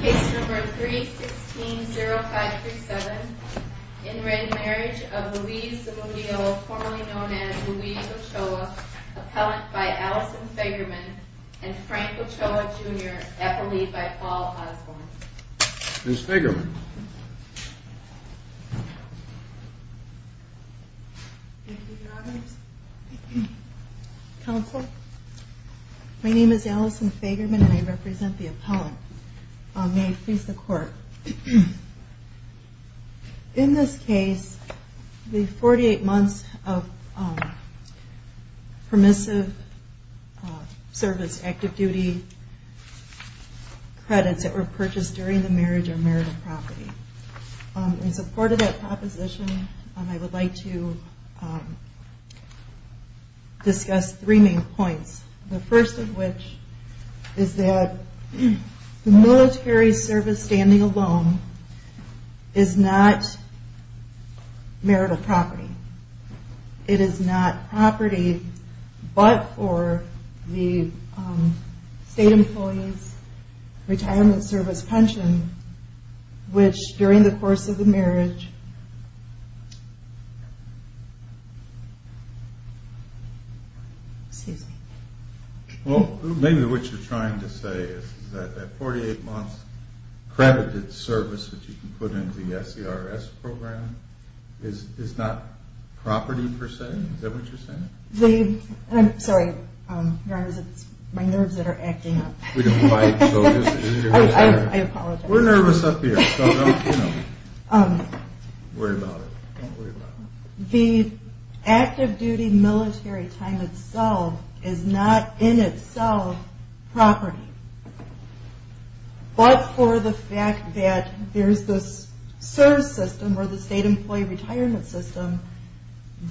Case number 316-0537. In-ring marriage of Louise Zimudio, formerly known as Louise Ochoa, appellant by Allison Fagerman and Frank Ochoa Jr., epily by Paul Osborne. Ms. Fagerman. Thank you, Your Honors. Counsel, my name is Allison Fagerman and I represent the appellant. May I please the Court. In this case, the 48 months of permissive service, active duty credits that were purchased during the marriage are marital property. In support of that proposition, I would like to discuss three main points. The first of which is that the military service standing alone is not marital property. It is not property, but for the state employee's retirement service pension, which during the course of the marriage, excuse me. Well, maybe what you're trying to say is that the 48 months credited service that you can put into the SCRS program is not property per se. Is that what you're saying? I'm sorry, Your Honors, it's my nerves that are acting up. We don't fight. I apologize. We're nervous up here, so don't worry about it. The active duty military time itself is not in itself property, but for the fact that there's this service system or the state employee retirement system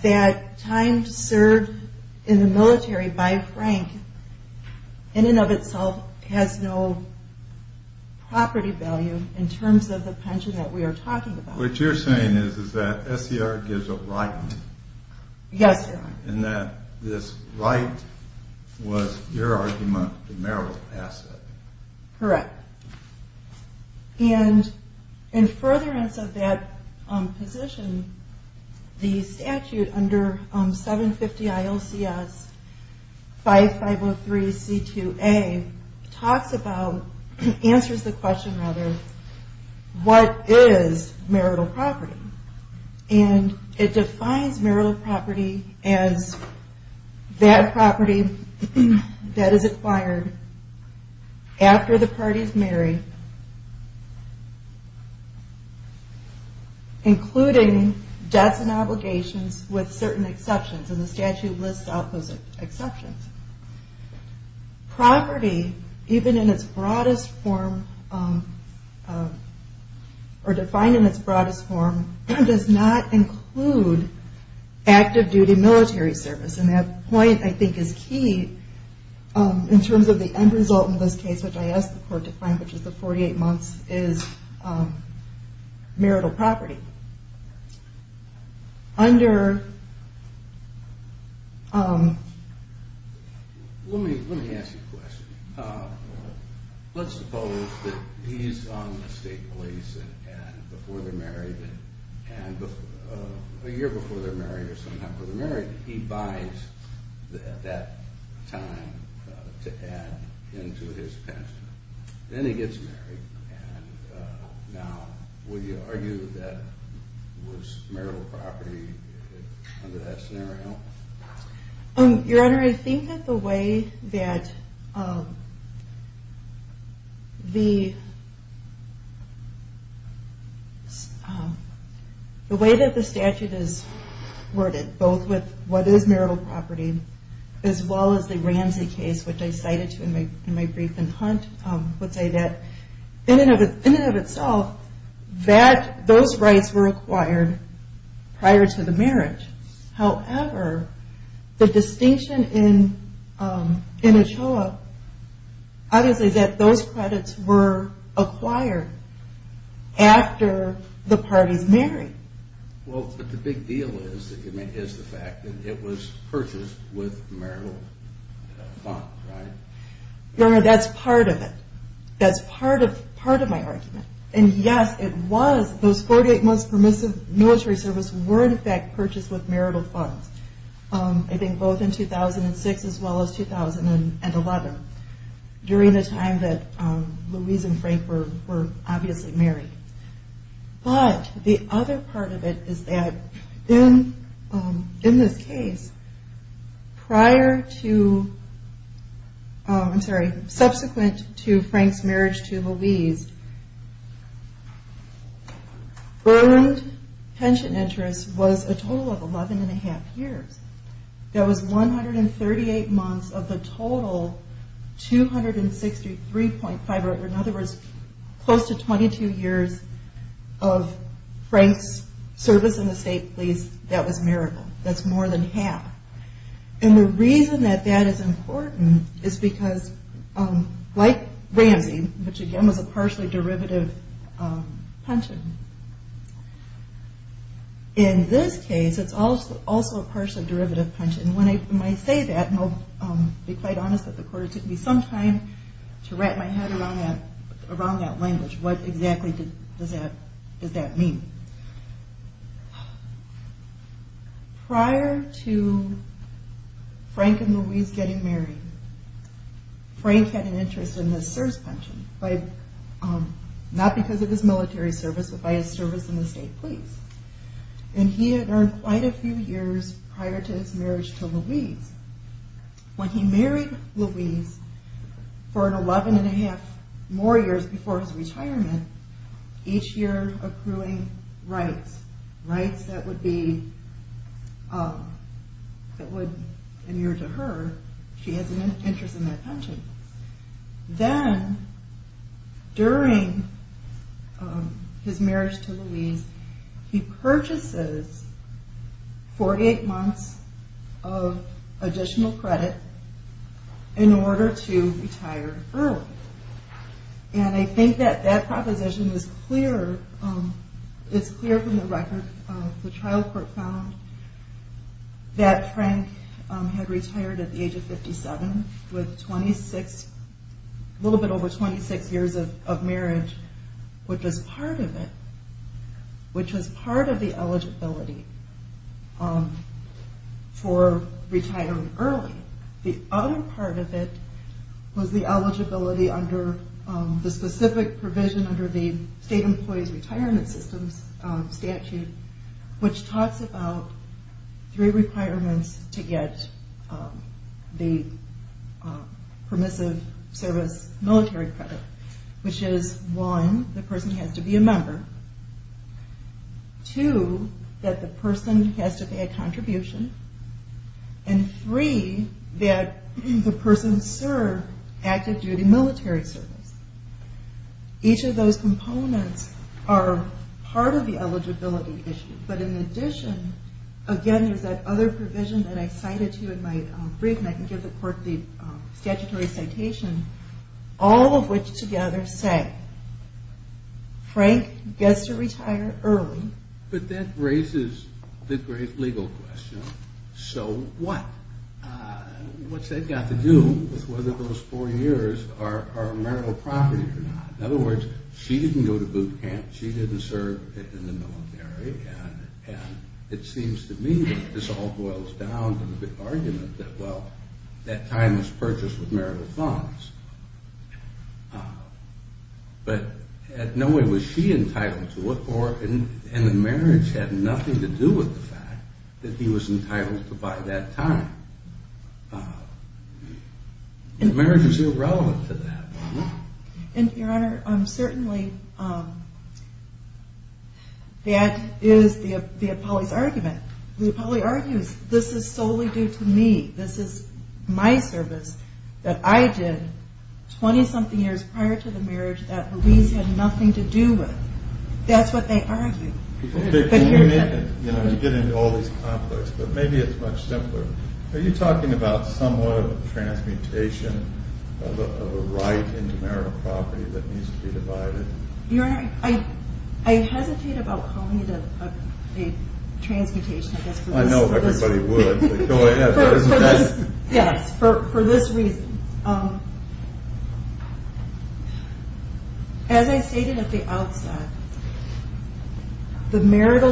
that time served in the military by Frank in and of itself has no property value in terms of the pension that we are talking about. What you're saying is that SCR gives it right. Yes, Your Honor. And that this right was your argument, the marital asset. Correct. And in furtherance of that position, the statute under 750 ILCS 5503C2A talks about, answers the question rather, what is marital property? And it defines marital property as that property that is acquired after the parties marry, including debts and obligations with certain exceptions. And the statute lists out those exceptions. Property, even in its broadest form, or defined in its broadest form, does not include active duty military service. And that point, I think, is key in terms of the end result in this case, which I asked the court to find, which is the 48 months is marital property. Let me ask you a question. Let's suppose that he's on the state police and before they're married, a year before they're married or some time before they're married, he buys that time to add into his pension. Then he gets married. And now, would you argue that was marital property under that scenario? Your Honor, I think that the way that the statute is worded, both with what is marital property, as well as the Ramsey case, which I cited to in my brief in Hunt, would say that in and of itself, those rights were acquired prior to the marriage. However, the distinction in Ochoa, obviously that those credits were acquired after the parties married. Well, but the big deal is the fact that it was purchased with marital funds, right? Your Honor, that's part of it. That's part of my argument. And yes, it was, those 48 months permissive military service were in fact purchased with marital funds. I think both in 2006 as well as 2011, during the time that Louise and Frank were obviously married. But the other part of it is that in this case, prior to, I'm sorry, subsequent to Frank's marriage to Louise, earned pension interest was a total of 11 and a half years. That was 138 months of the total 263.5, or in other words, close to 22 years of Frank's service in the state police. That was marital. That's more than half. And the reason that that is important is because, like Ramsey, which again was a partially derivative pension, in this case, it's also a partially derivative pension. When I say that, and I'll be quite honest that the court took me some time to wrap my head around that language, what exactly does that mean? Prior to Frank and Louise getting married, Frank had an interest in the CSRS pension, not because of his military service, but by his service in the state police. And he had earned quite a few years prior to his marriage to Louise. When he married Louise for an 11 and a half more years before his retirement, each year accruing rights, rights that would be, that would amure to her, she has an interest in that pension. Then, during his marriage to Louise, he purchases 48 months of additional credit in order to retire early. And I think that that proposition is clear, it's clear from the record, the trial court found, that Frank had retired at the age of 57 with 26, a little bit over 26 years of marriage, which was part of it, which was part of the eligibility for retiring early. The other part of it was the eligibility under the specific provision under the State Employees Retirement System statute, which talks about three requirements to get the permissive service military credit, which is one, the person has to be a member, two, that the person has to pay a contribution, and three, that the person serve active duty military service. Each of those components are part of the eligibility issue. But in addition, again, there's that other provision that I cited to you in my brief, and I can give the court the statutory citation, all of which together say, Frank gets to retire early. But that raises the great legal question, so what? What's that got to do with whether those four years are marital property or not? In other words, she didn't go to boot camp, she didn't serve in the military, and it seems to me that this all boils down to the big argument that, well, that time was purchased with marital funds. But in no way was she entitled to it, and the marriage had nothing to do with the fact that he was entitled to buy that time. The marriage is irrelevant to that. And, Your Honor, certainly that is the appellee's argument. The appellee argues, this is solely due to me. This is my service that I did 20-something years prior to the marriage that Louise had nothing to do with. That's what they argue. People think it's convenient to get into all these conflicts, but maybe it's much simpler. Are you talking about somewhat of a transmutation of a right into marital property that needs to be divided? Your Honor, I hesitate about calling it a transmutation. I know everybody would, but go ahead. Yes, for this reason. As I stated at the outset, the military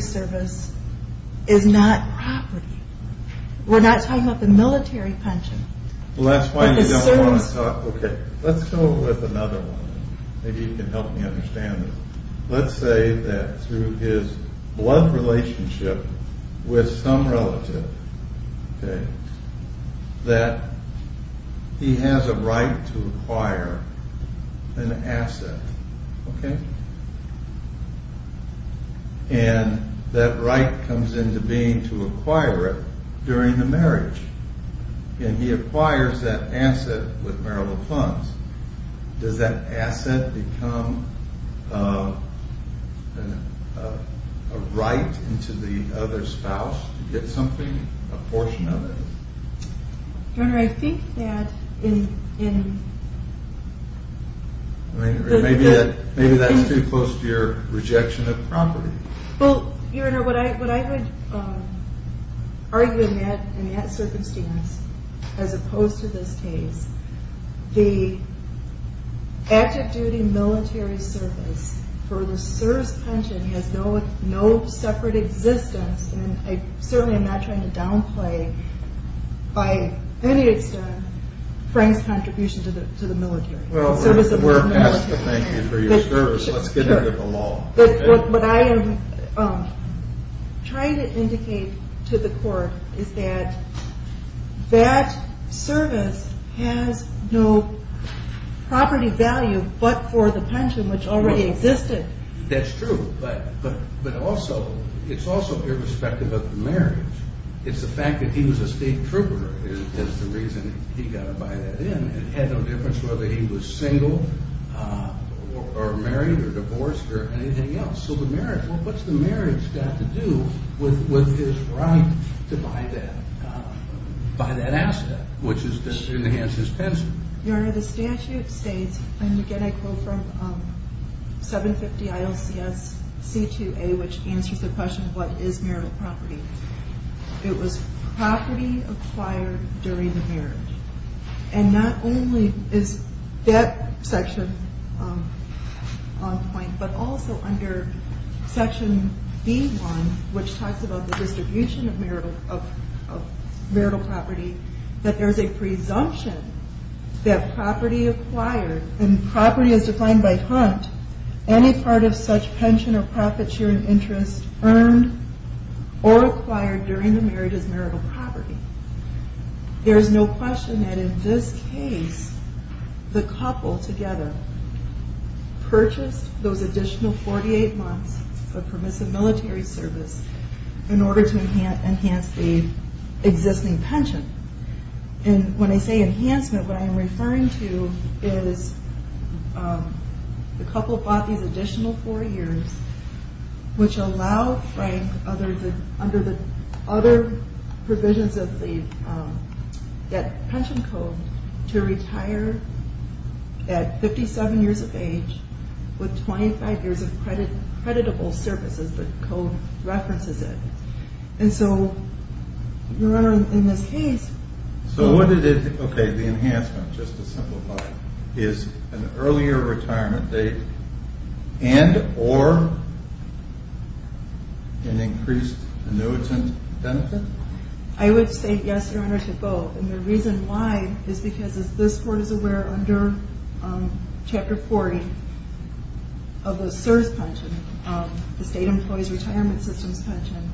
service is not property. We're not talking about the military pension. Well, that's why you don't want to talk. Okay, let's go with another one. Maybe you can help me understand this. Let's say that through his blood relationship with some relative, that he has a right to acquire an asset. And that right comes into being to acquire it during the marriage. And he acquires that asset with marital funds. Does that asset become a right into the other spouse to get something, a portion of it? Your Honor, I think that in... Maybe that's too close to your rejection of property. Well, Your Honor, what I would argue in that circumstance, as opposed to this case, the active duty military service for the service pension has no separate existence. And certainly I'm not trying to downplay by any extent Frank's contribution to the military. Well, we're asked to thank you for your service. Let's get into the law. What I am trying to indicate to the court is that that service has no property value but for the pension, which already existed. That's true, but also, it's also irrespective of the marriage. It's the fact that he was a state trooper is the reason he got to buy that in. It had no difference whether he was single or married or divorced or anything else. So the marriage, what's the marriage got to do with his right to buy that asset, which is to enhance his pension? Your Honor, the statute states, and again, I quote from 750 ILCS C2A, which answers the question, what is marital property? It was property acquired during the marriage. And not only is that section on point, but also under section B1, which talks about the distribution of marital property, that there's a presumption that property acquired, and property is defined by hunt, any part of such pension or profit sharing interest earned or acquired during the marriage is marital property. There is no question that in this case, the couple together purchased those additional 48 months of permissive military service in order to enhance the existing pension. And when I say enhancement, what I am referring to is the couple bought these additional four years, which allow Frank under the other provisions of the pension code to retire at 57 years of age with 25 years of creditable services, the code references it. And so, Your Honor, in this case... So what it is, okay, the enhancement, just to simplify, is an earlier retirement date and or an increased annuitant benefit? I would say yes, Your Honor, to both. And the reason why is because, as this Court is aware, under Chapter 40 of the CSRS pension, the State Employees Retirement System's pension,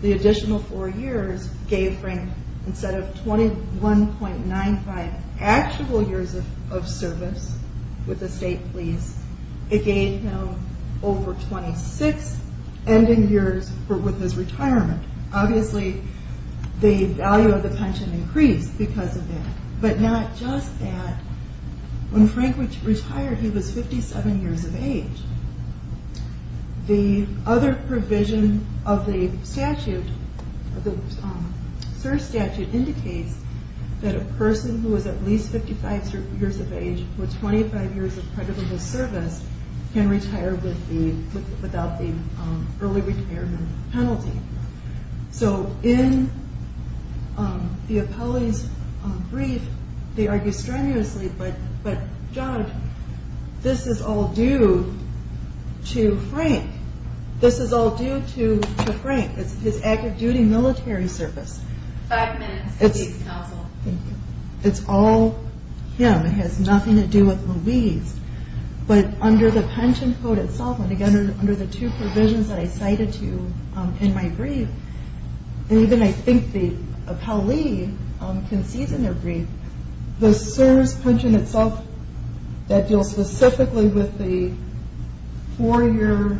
the additional four years gave Frank, instead of 21.95 actual years of service with the state fees, it gave him over 26 ending years with his retirement. Obviously, the value of the pension increased because of that. But not just that. When Frank retired, he was 57 years of age. The other provision of the statute, the CSRS statute, indicates that a person who is at least 55 years of age with 25 years of creditable service can retire without the early retirement penalty. So in the appellee's brief, they argue strenuously, but, Judge, this is all due to Frank. This is all due to Frank. It's his active duty military service. Five minutes, please, counsel. It's all him. It has nothing to do with Louise. But under the pension code itself, and again, under the two provisions that I cited to you in my brief, and even I think the appellee concedes in their brief, the CSRS pension itself, that deals specifically with the four-year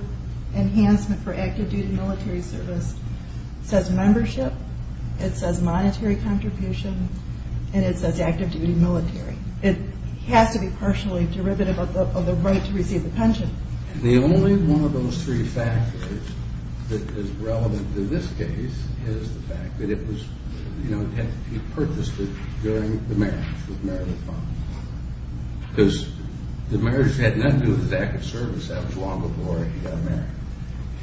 enhancement for active duty military service, says membership, it says monetary contribution, and it says active duty military. It has to be partially derivative of the right to receive the pension. And the only one of those three factors that is relevant to this case is the fact that it was, you know, he purchased it during the marriage with Mary Lee Fong. Because the marriage had nothing to do with his active service. That was long before he got married.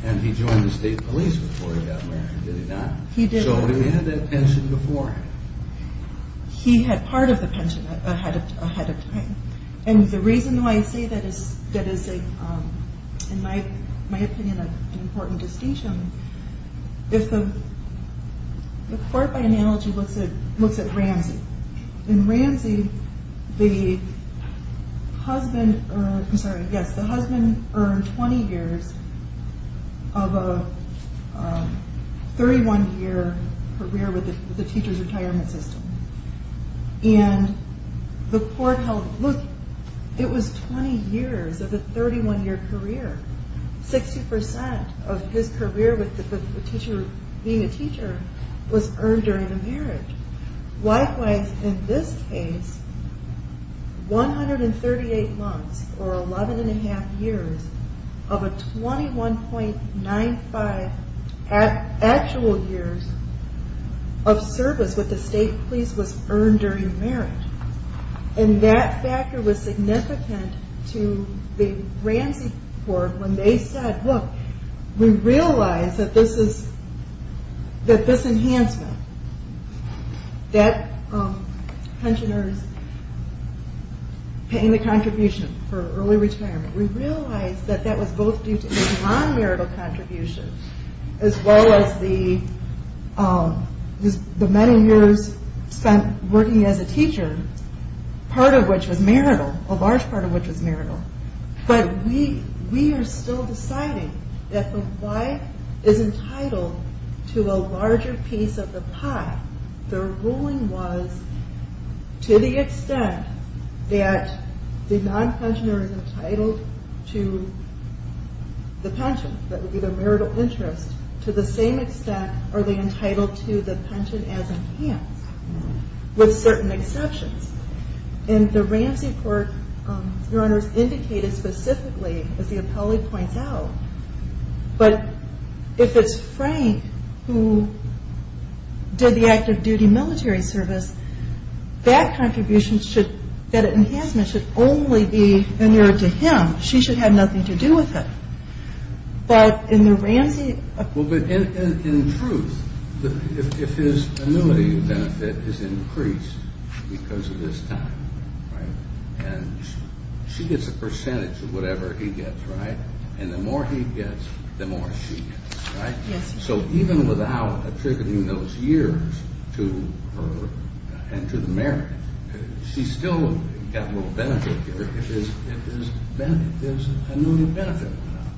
And he joined the state police before he got married, did he not? He did. So he had that pension before. He had part of the pension ahead of time. And the reason why I say that is, in my opinion, an important distinction is the court by analogy looks at Ramsey. In Ramsey, the husband earned 20 years of a 31-year career with the teacher's retirement system. And the court held, look, it was 20 years of a 31-year career. 60% of his career with the teacher being a teacher was earned during the marriage. Likewise, in this case, 138 months or 11 1⁄2 years of a 21.95 actual years of service with the state police was earned during marriage. And that factor was significant to the Ramsey court when they said, look, we realize that this enhancement that pensioners paying the contribution for early retirement, we realize that that was both due to his non-marital contribution as well as the many years spent working as a teacher, part of which was marital, a large part of which was marital. But we are still deciding that the wife is entitled to a larger piece of the pie. The ruling was, to the extent that the non-pensioner is entitled to the pension, that would be the marital interest, to the same extent are they entitled to the pension as enhanced, with certain exceptions. And the Ramsey court, Your Honors, indicated specifically, as the appellee points out, but if it's Frank who did the active duty military service, that enhancement should only be inured to him. She should have nothing to do with it. But in truth, if his annuity benefit is increased because of this time, and she gets a percentage of whatever he gets, and the more he gets, the more she gets, so even without attributing those years to her and to the marriage, she's still got a little benefit here if his annuity benefit went up.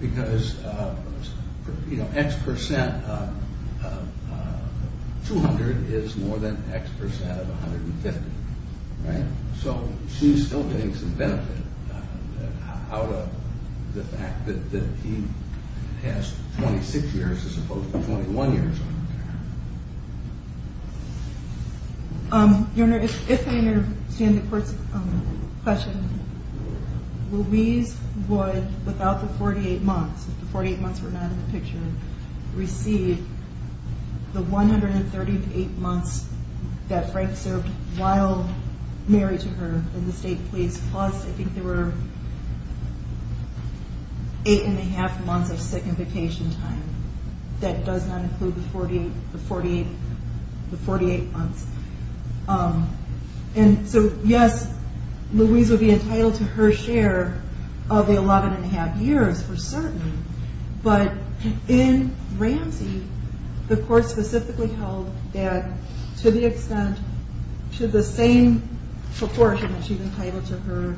Because, you know, X percent of 200 is more than X percent of 150, right? So she's still getting some benefit out of the fact that he has 26 years as opposed to 21 years. Your Honor, if I understand the court's question, Louise would, without the 48 months, if the 48 months were not in the picture, receive the 138 months that Frank served while married to her in the state police, plus I think there were eight and a half months of sick and vacation time. That does not include the 48 months. And so, yes, Louise would be entitled to her share of the 11 and a half years for certain, but in Ramsey, the court specifically held that to the extent, to the same proportion that she's entitled to her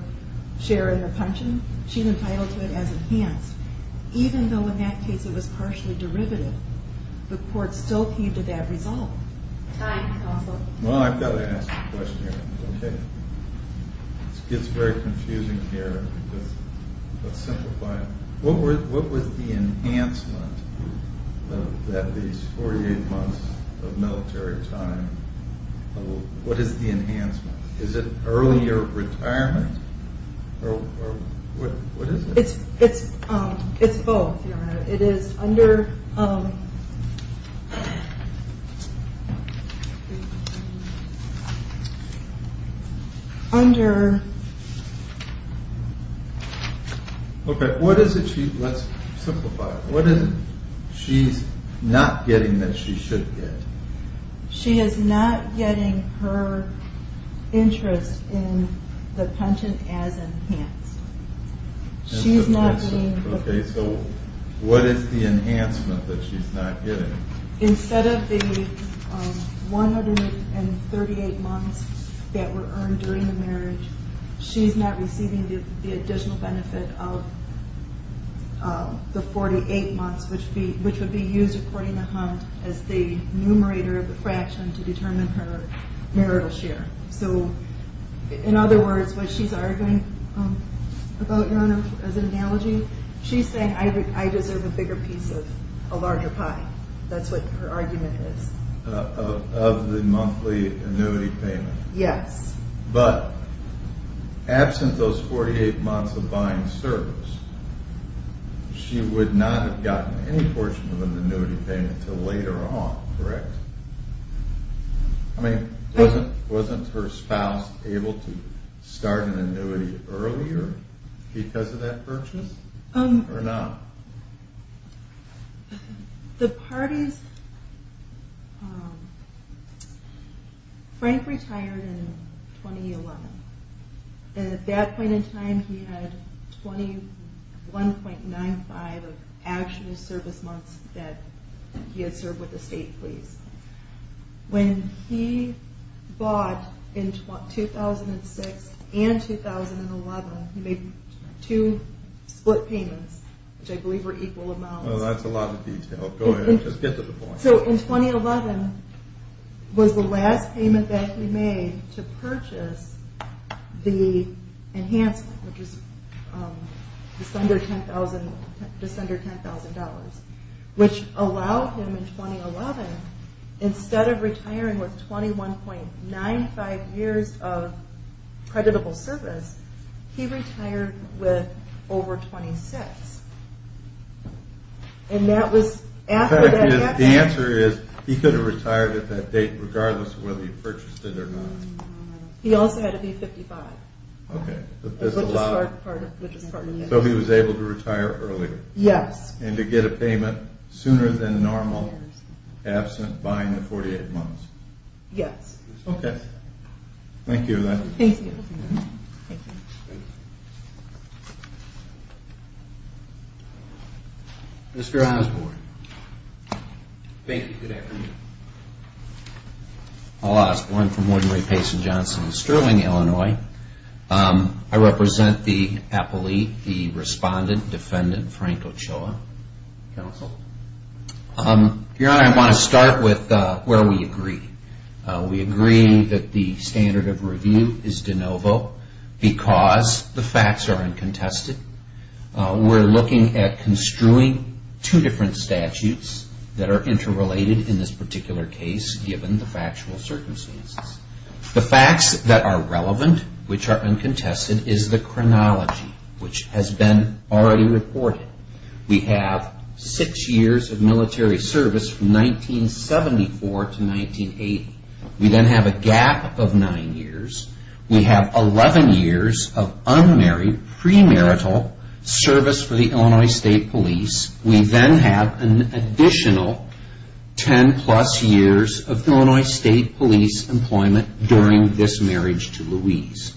share in the pension, she's entitled to it as enhanced. Even though in that case it was partially derivative, the court still came to that result. Well, I've got to ask a question here. Okay. It gets very confusing here. Let's simplify it. What was the enhancement of that, these 48 months of military time? What is the enhancement? Is it earlier retirement? Or what is it? It's both, Your Honor. It is under... Under... Okay, what is it she... Let's simplify it. What is it she's not getting that she should get? She is not getting her interest in the pension as enhanced. She's not being... Okay, so what is the enhancement that she's not getting? Instead of the 138 months that were earned during the marriage, she's not receiving the additional benefit of the 48 months, which would be used according to Hunt as the numerator of the fraction to determine her marital share. So, in other words, what she's arguing about, Your Honor, as an analogy, she's saying, I deserve a bigger piece of a larger pie. That's what her argument is. Of the monthly annuity payment. Yes. But absent those 48 months of buying service, she would not have gotten any portion of an annuity payment until later on, correct? I mean, wasn't her spouse able to start an annuity earlier because of that purchase? Or not? The parties... Frank retired in 2011. And at that point in time, he had 21.95 of actual service months that he had served with the state police. When he bought in 2006 and 2011, he made two split payments, which I believe were equal amounts. Well, that's a lot of detail. Go ahead. Just get to the point. So in 2011 was the last payment that he made to purchase the enhancement, which is just under $10,000. Which allowed him in 2011, instead of retiring with 21.95 years of creditable service, he retired with over 26. And that was after that... The answer is, he could have retired at that date regardless of whether he purchased it or not. He also had to be 55. Okay. So he was able to retire earlier. Yes. And to get a payment sooner than normal, absent buying the 48 months. Yes. Okay. Thank you for that. Thank you. Mr. Osborne. Thank you. Good afternoon. I represent the appellee, the respondent, defendant, Frank Ochoa, counsel. Your Honor, I want to start with where we agree. We agree that the standard of review is de novo because the facts are uncontested. We're looking at construing two different statutes that are interrelated in this particular case, given the factual circumstances. The facts that are relevant, which are uncontested, is the chronology, which has been already reported. We have six years of military service from 1974 to 1980. We then have a gap of nine years. We have 11 years of unmarried, premarital service for the Illinois State Police. We then have an additional 10-plus years of Illinois State Police employment during this marriage to Louise.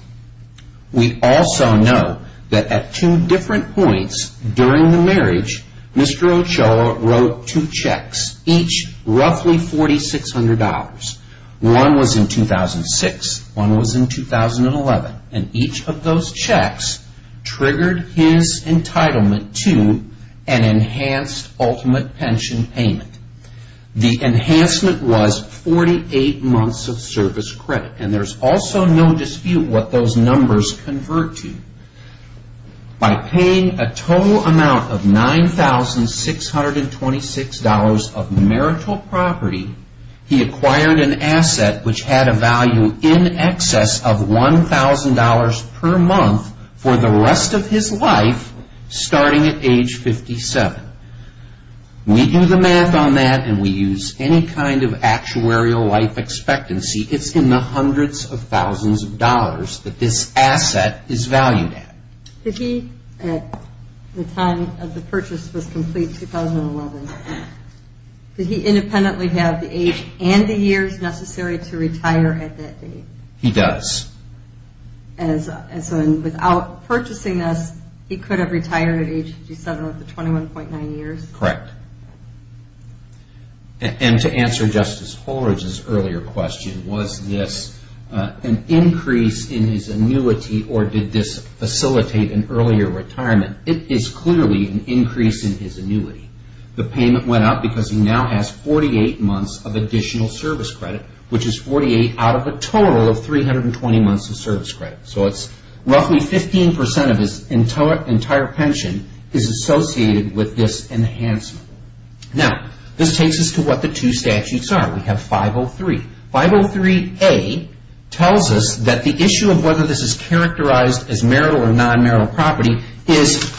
We also know that at two different points during the marriage, Mr. Ochoa wrote two checks, each roughly $4,600. One was in 2006. One was in 2011. And each of those checks triggered his entitlement to an enhanced ultimate pension payment. The enhancement was 48 months of service credit, and there's also no dispute what those numbers convert to. By paying a total amount of $9,626 of marital property, he acquired an asset which had a value in excess of $1,000 per month for the rest of his life, starting at age 57. We do the math on that, and we use any kind of actuarial life expectancy. It's in the hundreds of thousands of dollars that this asset is valued at. Did he, at the time of the purchase was complete, 2011, did he independently have the age and the years necessary to retire at that date? He does. And so without purchasing this, he could have retired at age 57 with a 21.9 years? Correct. And to answer Justice Holridge's earlier question, was this an increase in his annuity or did this facilitate an earlier retirement? It is clearly an increase in his annuity. The payment went up because he now has 48 months of additional service credit, which is 48 out of a total of 320 months of service credit. So it's roughly 15% of his entire pension is associated with this enhancement. Now, this takes us to what the two statutes are. We have 503. 503A tells us that the issue of whether this is characterized as marital or non-marital property is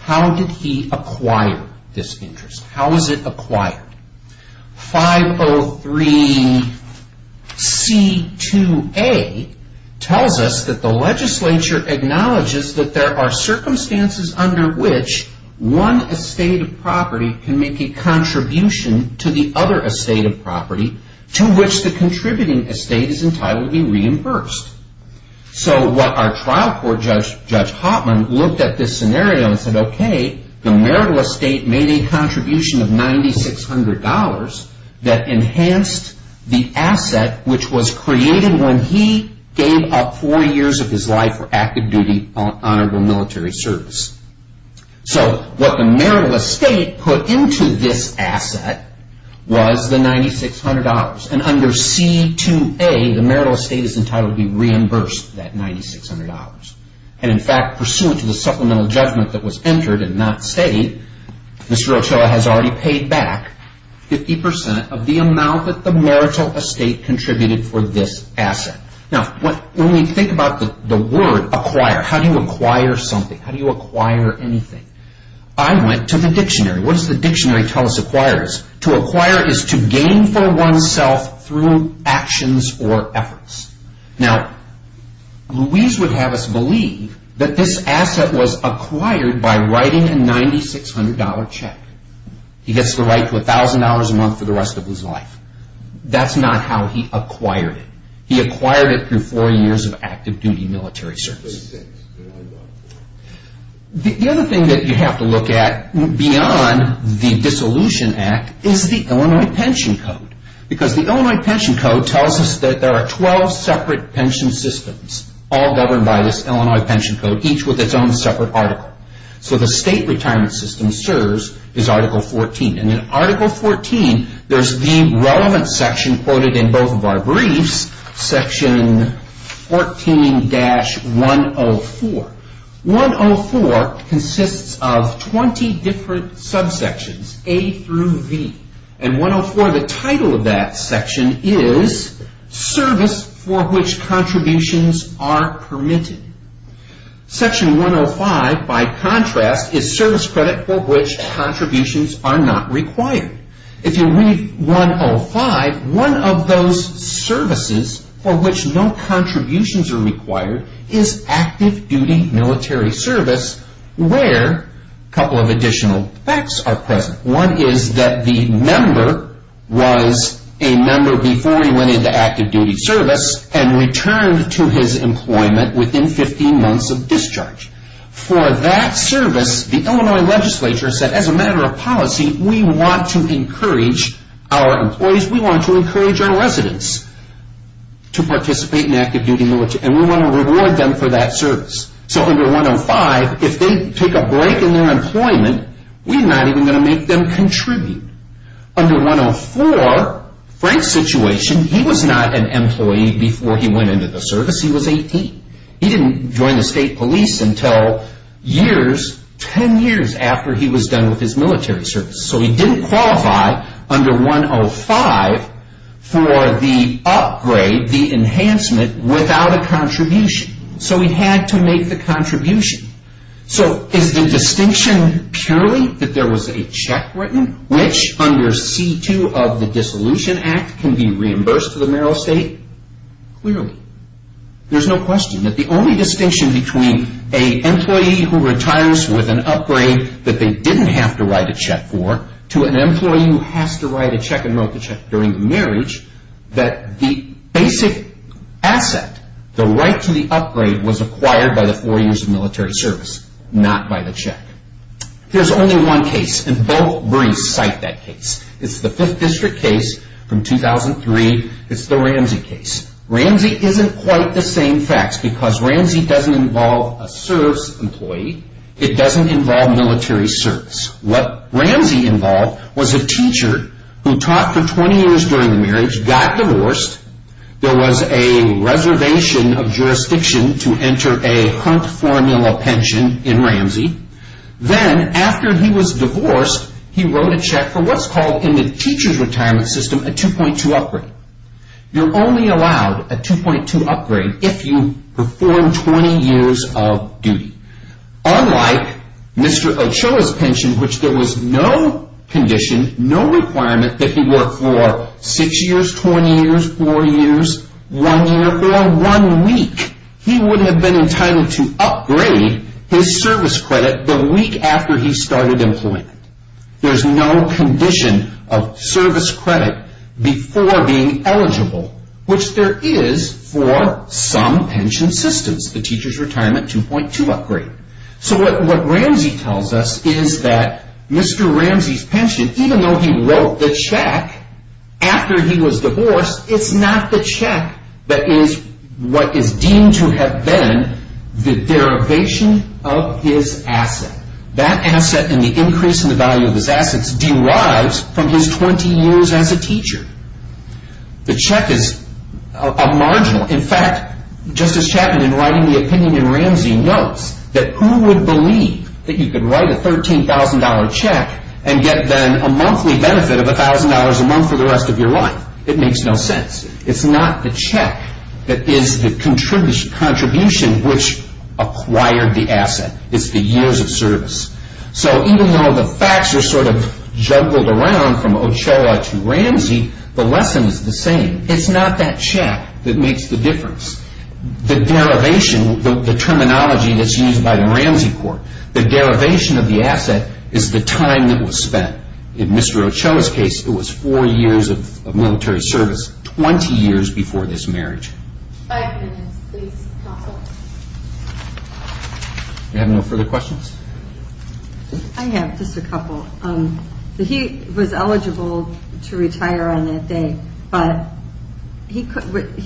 how did he acquire this interest? How was it acquired? 503C2A tells us that the legislature acknowledges that there are circumstances under which one estate of property can make a contribution to the other estate of property to which the contributing estate is entitled to be reimbursed. So what our trial court judge, Judge Hotman, looked at this scenario and said, okay, the marital estate made a contribution of $9,600 that enhanced the asset which was created when he gave up four years of his life for active duty honorable military service. So what the marital estate put into this asset was the $9,600. And under C2A, the marital estate is entitled to be reimbursed that $9,600. And in fact, pursuant to the supplemental judgment that was entered and not stayed, Mr. Ochoa has already paid back 50% of the amount that the marital estate contributed for this asset. Now, when we think about the word acquire, how do you acquire something? How do you acquire anything? I went to the dictionary. What does the dictionary tell us acquire is? To acquire is to gain for oneself through actions or efforts. Now, Louise would have us believe that this asset was acquired by writing a $9,600 check. He gets the right to $1,000 a month for the rest of his life. That's not how he acquired it. He acquired it through four years of active duty military service. The other thing that you have to look at beyond the Dissolution Act is the Illinois Pension Code. Because the Illinois Pension Code tells us that there are 12 separate pension systems all governed by this Illinois Pension Code, each with its own separate article. So the state retirement system serves is Article 14. And in Article 14, there's the relevant section quoted in both of our briefs, Section 14-104. 104 consists of 20 different subsections, A through V. And 104, the title of that section is Service for which Contributions are Permitted. Section 105, by contrast, is Service Credit for which Contributions are Not Required. If you read 105, one of those services for which no contributions are required is active duty military service where a couple of additional facts are present. One is that the member was a member before he went into active duty service and returned to his employment within 15 months of discharge. For that service, the Illinois legislature said, as a matter of policy, we want to encourage our employees, we want to encourage our residents to participate in active duty military. And we want to reward them for that service. So under 105, if they take a break in their employment, we're not even going to make them contribute. Under 104, Frank's situation, he was not an employee before he went into the service. He was 18. He didn't join the state police until years, 10 years after he was done with his military service. So he didn't qualify under 105 for the upgrade, the enhancement, without a contribution. So he had to make the contribution. So is the distinction purely that there was a check written, which under C-2 of the Dissolution Act can be reimbursed to the federal state? Clearly. There's no question that the only distinction between an employee who retires with an upgrade that they didn't have to write a check for, to an employee who has to write a check and wrote the check during marriage, that the basic asset, the right to the upgrade, was acquired by the four years of military service, not by the check. There's only one case, and both briefs cite that case. It's the Fifth District case from 2003. It's the Ramsey case. Ramsey isn't quite the same facts because Ramsey doesn't involve a service employee. It doesn't involve military service. What Ramsey involved was a teacher who taught for 20 years during the marriage, got divorced. There was a reservation of jurisdiction to enter a Hunt Formula pension in Ramsey. Then after he was divorced, he wrote a check for what's called in the teacher's retirement system a 2.2 upgrade. You're only allowed a 2.2 upgrade if you perform 20 years of duty. Unlike Mr. Ochoa's pension, which there was no condition, no requirement that he work for 6 years, 20 years, 4 years, 1 year, for 1 week. He wouldn't have been entitled to upgrade his service credit the week after he started employment. There's no condition of service credit before being eligible, which there is for some pension systems, the teacher's retirement 2.2 upgrade. What Ramsey tells us is that Mr. Ramsey's pension, even though he wrote the check after he was divorced, it's not the check that is what is deemed to have been the derivation of his asset. That asset and the increase in the value of his assets derives from his 20 years as a teacher. The check is a marginal. In fact, Justice Chapman, in writing the opinion in Ramsey, notes that who would believe that you could write a $13,000 check and get then a monthly benefit of $1,000 a month for the rest of your life. It makes no sense. It's not the check that is the contribution which acquired the asset. It's the years of service. So even though the facts are sort of juggled around from Ochoa to Ramsey, the lesson is the same. It's not that check that makes the difference. The derivation, the terminology that's used by the Ramsey court, the derivation of the asset is the time that was spent. In Mr. Ochoa's case, it was four years of military service, 20 years before this marriage. Five minutes, please, counsel. You have no further questions? I have just a couple. He was eligible to retire on that day, but he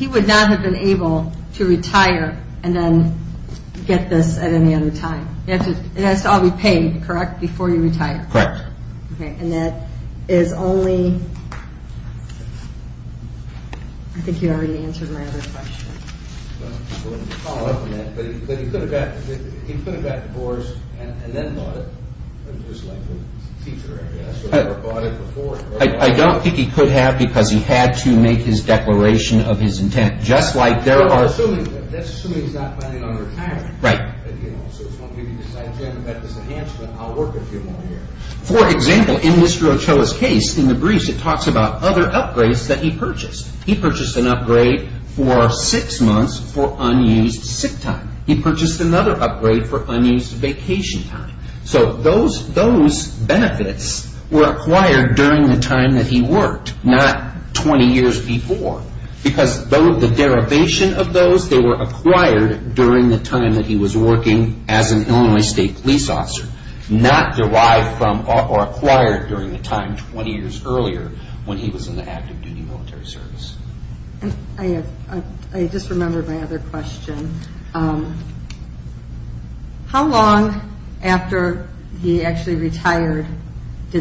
would not have been able to retire and then get this at any other time. It has to all be paid, correct, before you retire? Correct. Okay, and that is only – I think you already answered my other question. I'm going to follow up on that. But he put it back to Boris and then bought it, just like the teacher, I guess, or bought it before. I don't think he could have because he had to make his declaration of his intent, just like there are – That's assuming he's not planning on retiring. Right. If you decide, Jim, that is a handsome, I'll work a few more years. For example, in Mr. Ochoa's case, in the briefs, it talks about other upgrades that he purchased. He purchased an upgrade for six months for unused sick time. He purchased another upgrade for unused vacation time. So those benefits were acquired during the time that he worked, not 20 years before, because the derivation of those, they were acquired during the time that he was working as an Illinois State police officer, not derived from or acquired during the time 20 years earlier when he was in the active duty military service. I just remembered my other question. How long after he actually retired were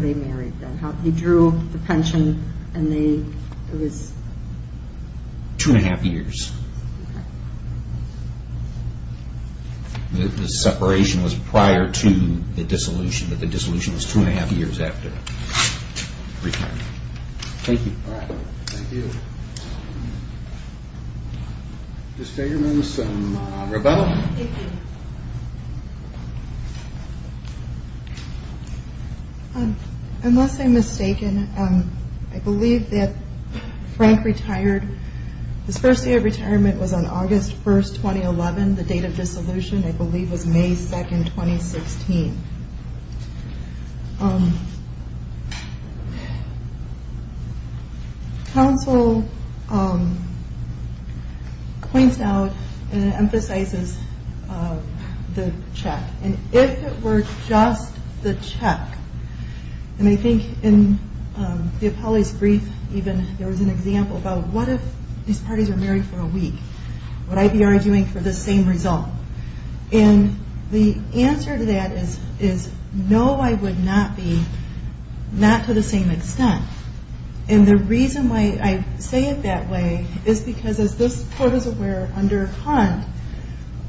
they married then? He drew the pension and they – it was – Two and a half years. Okay. The separation was prior to the dissolution, but the dissolution was two and a half years after retirement. Thank you. All right. Thank you. Thank you. Unless I'm mistaken, I believe that Frank retired – his first year of retirement was on August 1, 2011. The date of dissolution, I believe, was May 2, 2016. Counsel points out and emphasizes the check. And if it were just the check, and I think in the appellee's brief, even, there was an example about what if these parties were married for a week? Would I be arguing for the same result? And the answer to that is no, I would not be, not to the same extent. And the reason why I say it that way is because, as this court is aware, under Hunt,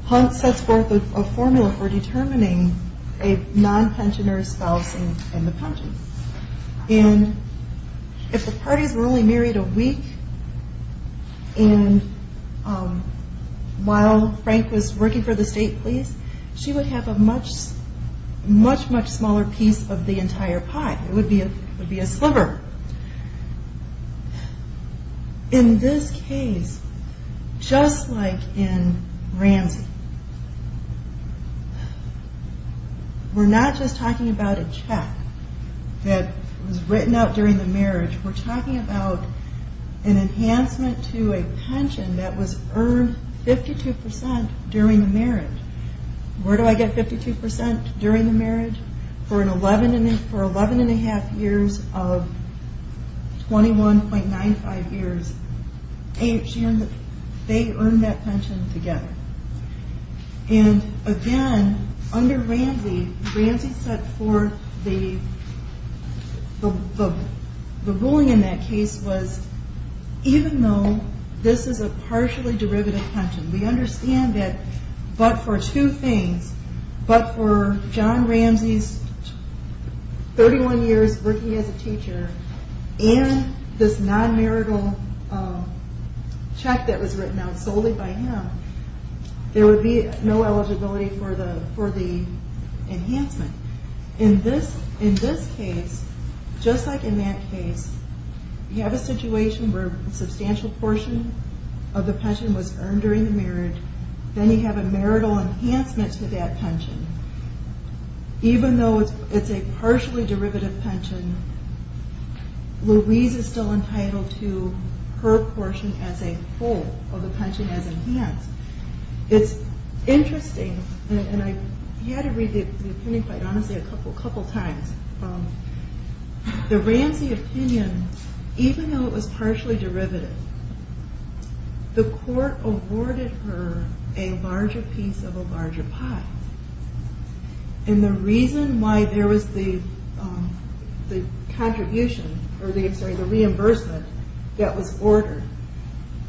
Hunt sets forth a formula for determining a non-pensioner spouse and the pension. And if the parties were only married a week, and while Frank was working for the state police, she would have a much, much, much smaller piece of the entire pie. It would be a sliver. However, in this case, just like in Ramsey, we're not just talking about a check that was written out during the marriage. We're talking about an enhancement to a pension that was earned 52% during the marriage. Where do I get 52% during the marriage? For 11 1⁄2 years of 21.95 years, they earned that pension together. And again, under Ramsey, Ramsey set forth the ruling in that case was, even though this is a partially derivative pension, we understand that, but for two things, but for John Ramsey's 31 years working as a teacher and this non-marital check that was written out solely by him, there would be no eligibility for the enhancement. In this case, just like in that case, you have a situation where a substantial portion of the pension was earned during the marriage. Then you have a marital enhancement to that pension. Even though it's a partially derivative pension, Louise is still entitled to her portion as a whole of the pension as enhanced. It's interesting, and you had to read the opinion quite honestly a couple times. The Ramsey opinion, even though it was partially derivative, the court awarded her a larger piece of a larger pot. And the reason why there was the reimbursement that was ordered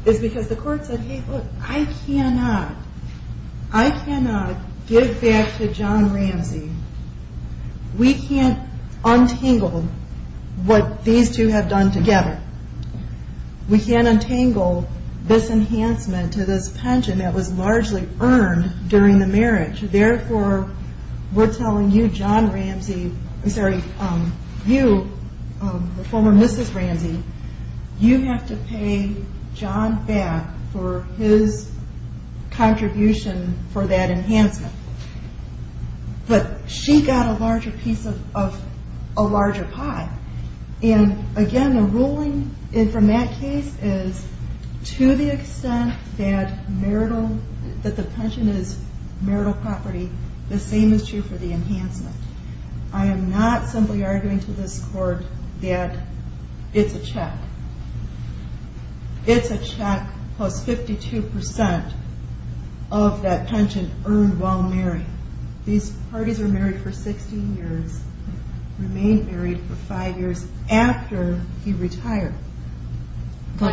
is because the court said, hey, look, I cannot give back to John Ramsey. We can't untangle what these two have done together. We can't untangle this enhancement to this pension that was largely earned during the marriage. Therefore, we're telling you, John Ramsey, I'm sorry, you, the former Mrs. Ramsey, you have to pay John back for his contribution for that enhancement. But she got a larger piece of a larger pot. And again, the ruling from that case is to the extent that marital, that the pension is marital property, the same is true for the enhancement. I am not simply arguing to this court that it's a check. It's a check, plus 52% of that pension earned while married. These parties were married for 16 years, remained married for five years after he retired. He could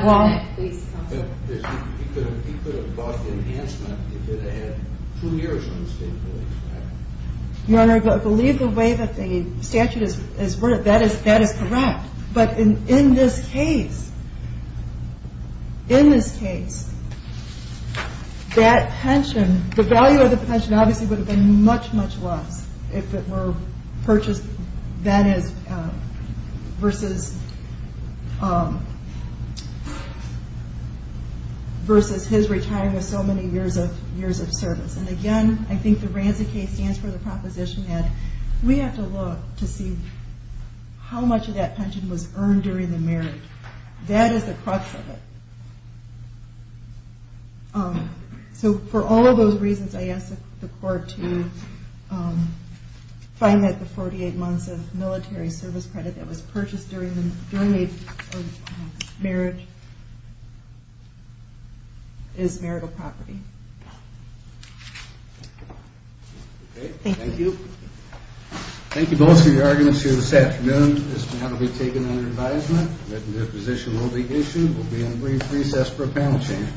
have bought the enhancement. He could have had two years on the state police. Your Honor, believe the way that the statute is written, that is correct. But in this case, that pension, the value of the pension obviously would have been much, much less if it were purchased versus his retiring with so many years of service. And again, I think the Ramsey case stands for the proposition that we have to look to see how much of that pension was earned during the marriage. That is the crux of it. So for all of those reasons, I ask the court to find that the 48 months of military service credit that was purchased during the marriage is marital property. Thank you. Thank you both for your arguments here this afternoon. This matter will be taken under advisement. The position will be issued. We'll be in a brief recess for a panel change.